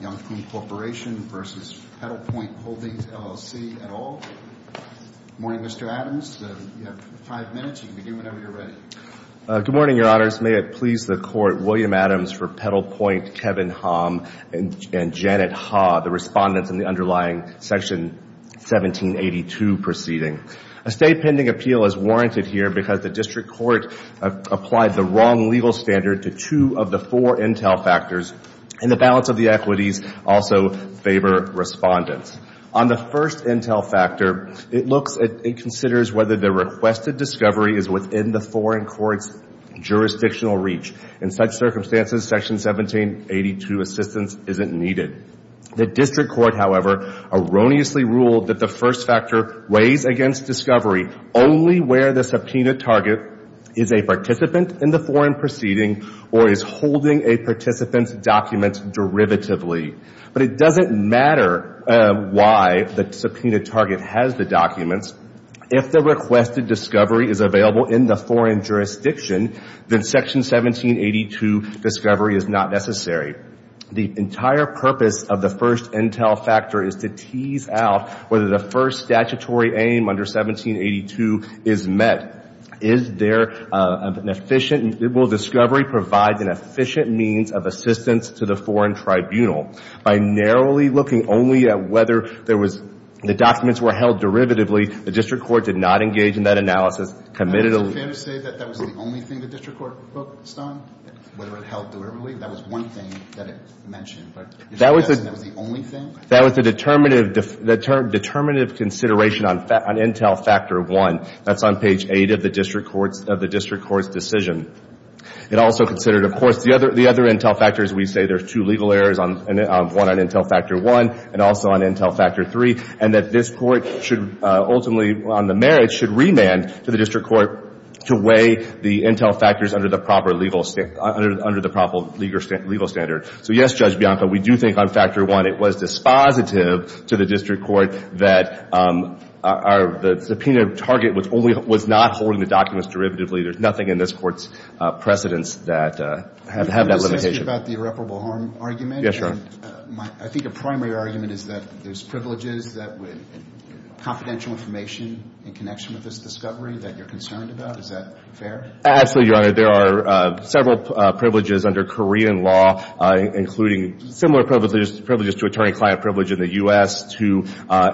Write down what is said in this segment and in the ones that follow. Youngpoong Corporation v. Petalpoint Holdings, LLC, et al. Good morning, Mr. Adams. You have five minutes. You can begin whenever you're ready. Good morning, Your Honors. May it please the Court, William Adams for Petalpoint, Kevin Hom, and Janet Ha, the respondents in the underlying section 1782 proceeding. A State pending appeal is warranted here because the District Court applied the wrong legal standard to two of the four intel factors, and the balance of the equities also favor respondents. On the first intel factor, it considers whether the requested discovery is within the foreign court's jurisdictional reach. In such circumstances, section 1782 assistance isn't needed. The District Court, however, erroneously ruled that the first factor weighs against discovery only where the subpoena target is a participant in the foreign proceeding or is holding a participant's documents derivatively. But it doesn't matter why the subpoena target has the documents. If the requested discovery is available in the foreign jurisdiction, then section 1782 discovery is not necessary. The entire purpose of the first intel factor is to tease out whether the first statutory aim under 1782 is met. Is there an efficient – will discovery provide an efficient means of assistance to the foreign tribunal? By narrowly looking only at whether there was – the documents were held derivatively, the District Court did not engage in that analysis. Is it fair to say that that was the only thing the District Court focused on, whether it held derivatively? That was one thing that it mentioned. That was the only thing? That was the determinative consideration on intel factor one. That's on page eight of the District Court's decision. It also considered, of course, the other intel factors. We say there's two legal errors, one on intel factor one and also on intel factor three, and that this Court should ultimately, on the merits, should remand to the District Court to weigh the intel factors under the proper legal – under the proper legal standard. So, yes, Judge Bianco, we do think on factor one it was dispositive to the District Court that our – the subpoena target was only – was not holding the documents derivatively. There's nothing in this Court's precedents that have that limitation. Let me just ask you about the irreparable harm argument. Yes, Your Honor. I think a primary argument is that there's privileges that would – confidential information in connection with this discovery that you're concerned about. Is that fair? Absolutely, Your Honor. There are several privileges under Korean law, including similar privileges to attorney-client privilege in the U.S., to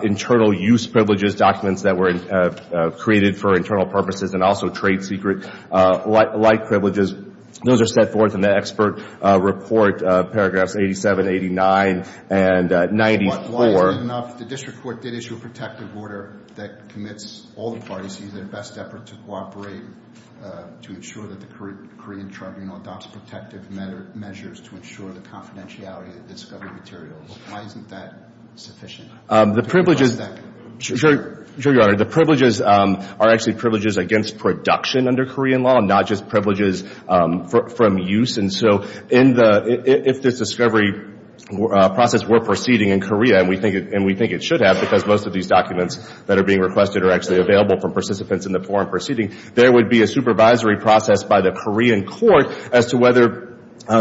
internal use privileges, documents that were created for internal purposes, and also trade secret-like privileges. Those are set forth in the expert report, paragraphs 87, 89, and 94. Why isn't it enough? The District Court did issue a protective order that commits all the parties to use their best effort to cooperate to ensure that the Korean tribunal adopts protective measures to ensure the confidentiality of the discovery material. Why isn't that sufficient? The privileges – Just one second. Sure, Your Honor. The privileges are actually privileges against production under Korean law, not just privileges from use. And so in the – if this discovery process were proceeding in Korea, and we think it should have because most of these documents that are being requested are actually available from participants in the forum proceeding, there would be a supervisory process by the Korean court as to whether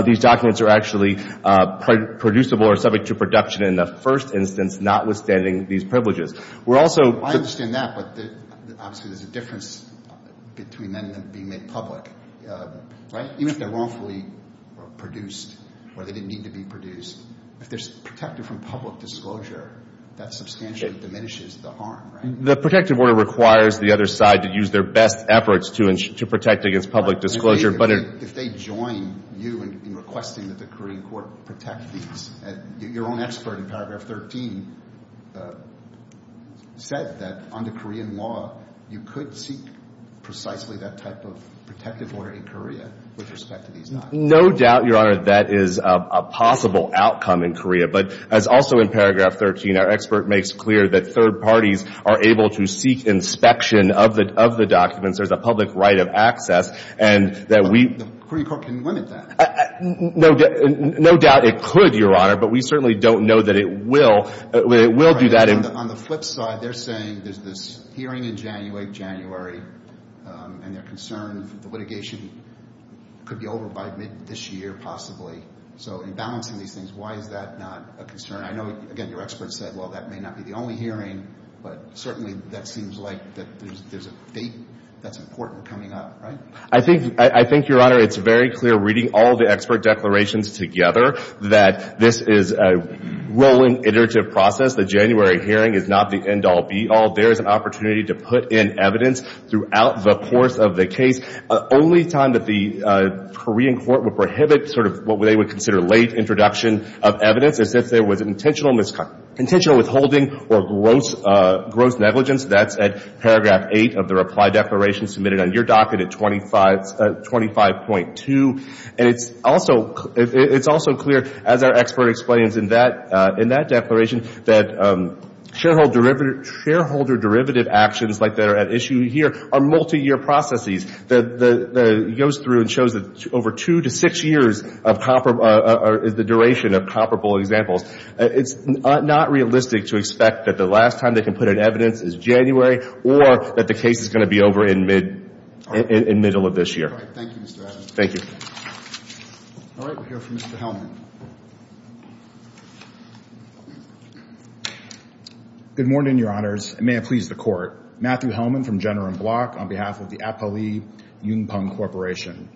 these documents are actually producible or subject to production in the first instance, notwithstanding these privileges. We're also – I understand that, but obviously there's a difference between them being made public, right? Even if they're wrongfully produced or they didn't need to be produced, if they're protected from public disclosure, that substantially diminishes the harm, right? The protective order requires the other side to use their best efforts to protect against public disclosure. But if they join you in requesting that the Korean court protect these, your own expert in paragraph 13 said that under Korean law, you could seek precisely that type of protective order in Korea with respect to these documents. No doubt, Your Honor, that is a possible outcome in Korea. But as also in paragraph 13, our expert makes clear that third parties are able to seek inspection of the documents. There's a public right of access, and that we – The Korean court can limit that. No doubt it could, Your Honor, but we certainly don't know that it will do that. On the flip side, they're saying there's this hearing in January, and they're concerned the litigation could be over by mid this year possibly. So in balancing these things, why is that not a concern? I know, again, your expert said, well, that may not be the only hearing, but certainly that seems like there's a fate that's important coming up, right? I think, Your Honor, it's very clear reading all the expert declarations together that this is a rolling, iterative process. The January hearing is not the end-all, be-all. There is an opportunity to put in evidence throughout the course of the case. Only time that the Korean court would prohibit sort of what they would consider late introduction of evidence is if there was intentional withholding or gross negligence. That's at paragraph 8 of the reply declaration submitted on your docket at 25.2. And it's also clear, as our expert explains in that declaration, that shareholder derivative actions like that are at issue here are multiyear processes. It goes through and shows that over two to six years is the duration of comparable examples. It's not realistic to expect that the last time they can put in evidence is January or that the case is going to be over in middle of this year. Thank you, Mr. Adams. Thank you. All right. We'll hear from Mr. Hellman. Good morning, Your Honors, and may it please the Court. Matthew Hellman from Jenner and Block on behalf of the Apolli Yunpeng Corporation.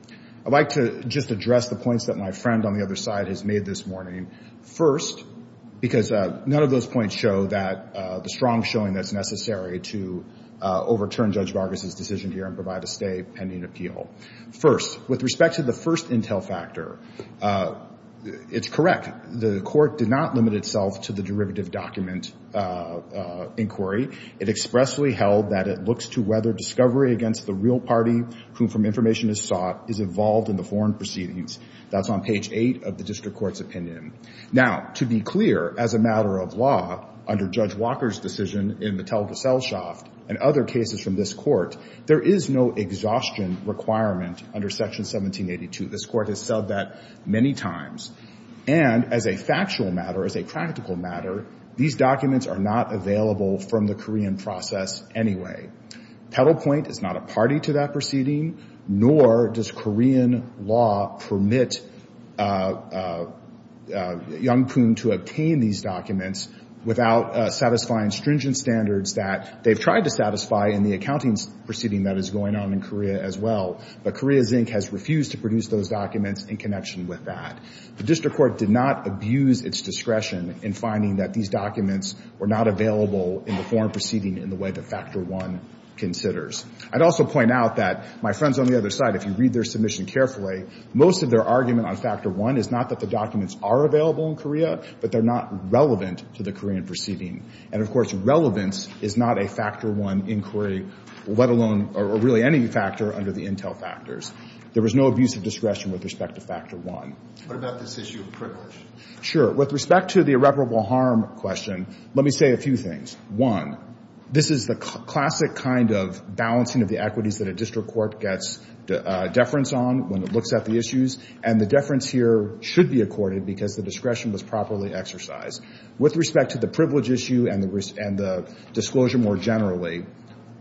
I'd like to just address the points that my friend on the other side has made this morning. First, because none of those points show that the strong showing that's necessary to overturn Judge Vargas' decision here and provide a stay pending appeal. First, with respect to the first intel factor, it's correct. The Court did not limit itself to the derivative document inquiry. It expressly held that it looks to whether discovery against the real party whom from information is sought is involved in the foreign proceedings. That's on page 8 of the District Court's opinion. Now, to be clear, as a matter of law, under Judge Walker's decision in Mattel-Gesellschaft and other cases from this Court, there is no exhaustion requirement under Section 1782. This Court has said that many times. And as a factual matter, as a practical matter, these documents are not available from the Korean process anyway. Petal Point is not a party to that proceeding, nor does Korean law permit Yunpeng to obtain these documents without satisfying stringent standards that they've tried to satisfy in the accounting proceeding that is going on in Korea as well. But Korea Zinc has refused to produce those documents in connection with that. The District Court did not abuse its discretion in finding that these documents were not available in the foreign proceeding in the way that Factor I considers. I'd also point out that my friends on the other side, if you read their submission carefully, most of their argument on Factor I is not that the documents are available in Korea, but they're not relevant to the Korean proceeding. And, of course, relevance is not a Factor I inquiry, let alone or really any factor under the intel factors. There was no abuse of discretion with respect to Factor I. What about this issue of privilege? Sure. With respect to the irreparable harm question, let me say a few things. One, this is the classic kind of balancing of the equities that a district court gets deference on when it looks at the issues, and the deference here should be accorded because the discretion was properly exercised. With respect to the privilege issue and the disclosure more generally,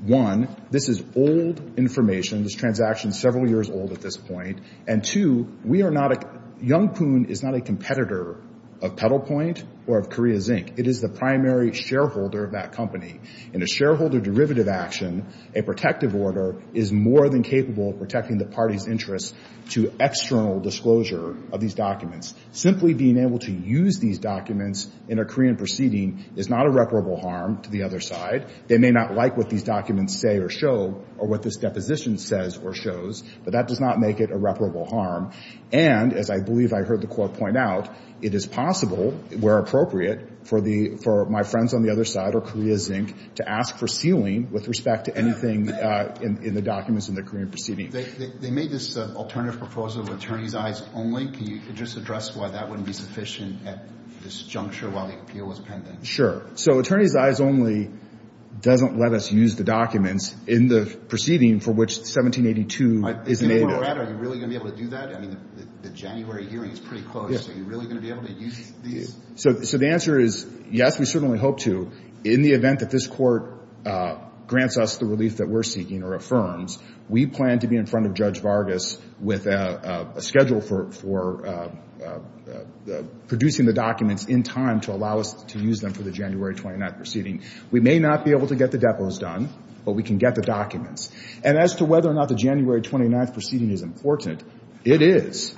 one, this is old information. This transaction is several years old at this point. And, two, we are not a – Young Poon is not a competitor of Petal Point or of Korea Zinc. It is the primary shareholder of that company. In a shareholder derivative action, a protective order is more than capable of protecting the party's interest to external disclosure of these documents. Simply being able to use these documents in a Korean proceeding is not irreparable harm to the other side. They may not like what these documents say or show or what this deposition says or shows, but that does not make it irreparable harm. And, as I believe I heard the Court point out, it is possible, where appropriate, for my friends on the other side or Korea Zinc to ask for sealing with respect to anything in the documents in the Korean proceeding. They made this alternative proposal of attorney's eyes only. Can you just address why that wouldn't be sufficient at this juncture while the appeal was pending? Sure. So attorney's eyes only doesn't let us use the documents in the proceeding for which 1782 is made. Are you really going to be able to do that? I mean, the January hearing is pretty close. Are you really going to be able to use these? So the answer is yes, we certainly hope to. In the event that this Court grants us the relief that we're seeking or affirms, we plan to be in front of Judge Vargas with a schedule for producing the documents in time to allow us to use them for the January 29th proceeding. We may not be able to get the depots done, but we can get the documents. And as to whether or not the January 29th proceeding is important, it is.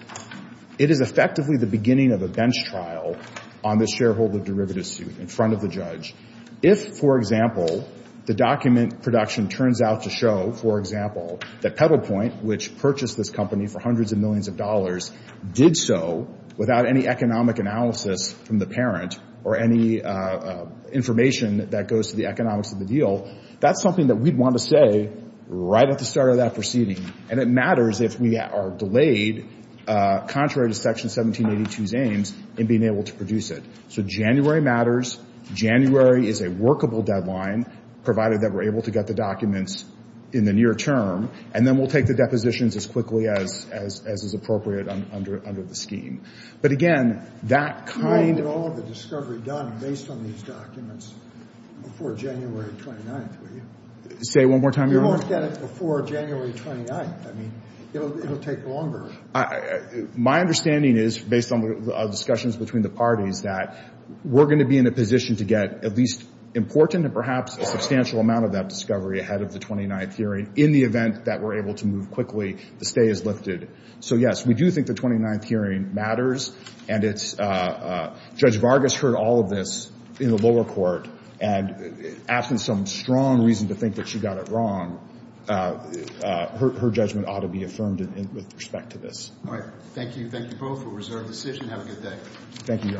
It is effectively the beginning of a bench trial on this shareholder derivative suit in front of the judge. If, for example, the document production turns out to show, for example, that Pedal Point, which purchased this company for hundreds of millions of dollars, did so without any economic analysis from the parent or any information that goes to the economics of the deal, that's something that we'd want to say right at the start of that proceeding. And it matters if we are delayed, contrary to Section 1782's aims, in being able to produce it. So January matters. January is a workable deadline, provided that we're able to get the documents in the near term. And then we'll take the depositions as quickly as is appropriate under the scheme. But again, that kind of – You won't get all of the discovery done based on these documents before January 29th, will you? Say it one more time, Your Honor. You won't get it before January 29th. I mean, it'll take longer. My understanding is, based on discussions between the parties, that we're going to be in a position to get at least important and perhaps a substantial amount of that discovery ahead of the 29th hearing in the event that we're able to move quickly, the stay is lifted. So, yes, we do think the 29th hearing matters. And it's – Judge Vargas heard all of this in the lower court and asked for some strong reason to think that she got it wrong. Her judgment ought to be affirmed with respect to this. All right. Thank you. Thank you both for a reserved decision. Have a good day. Thank you, Your Honor.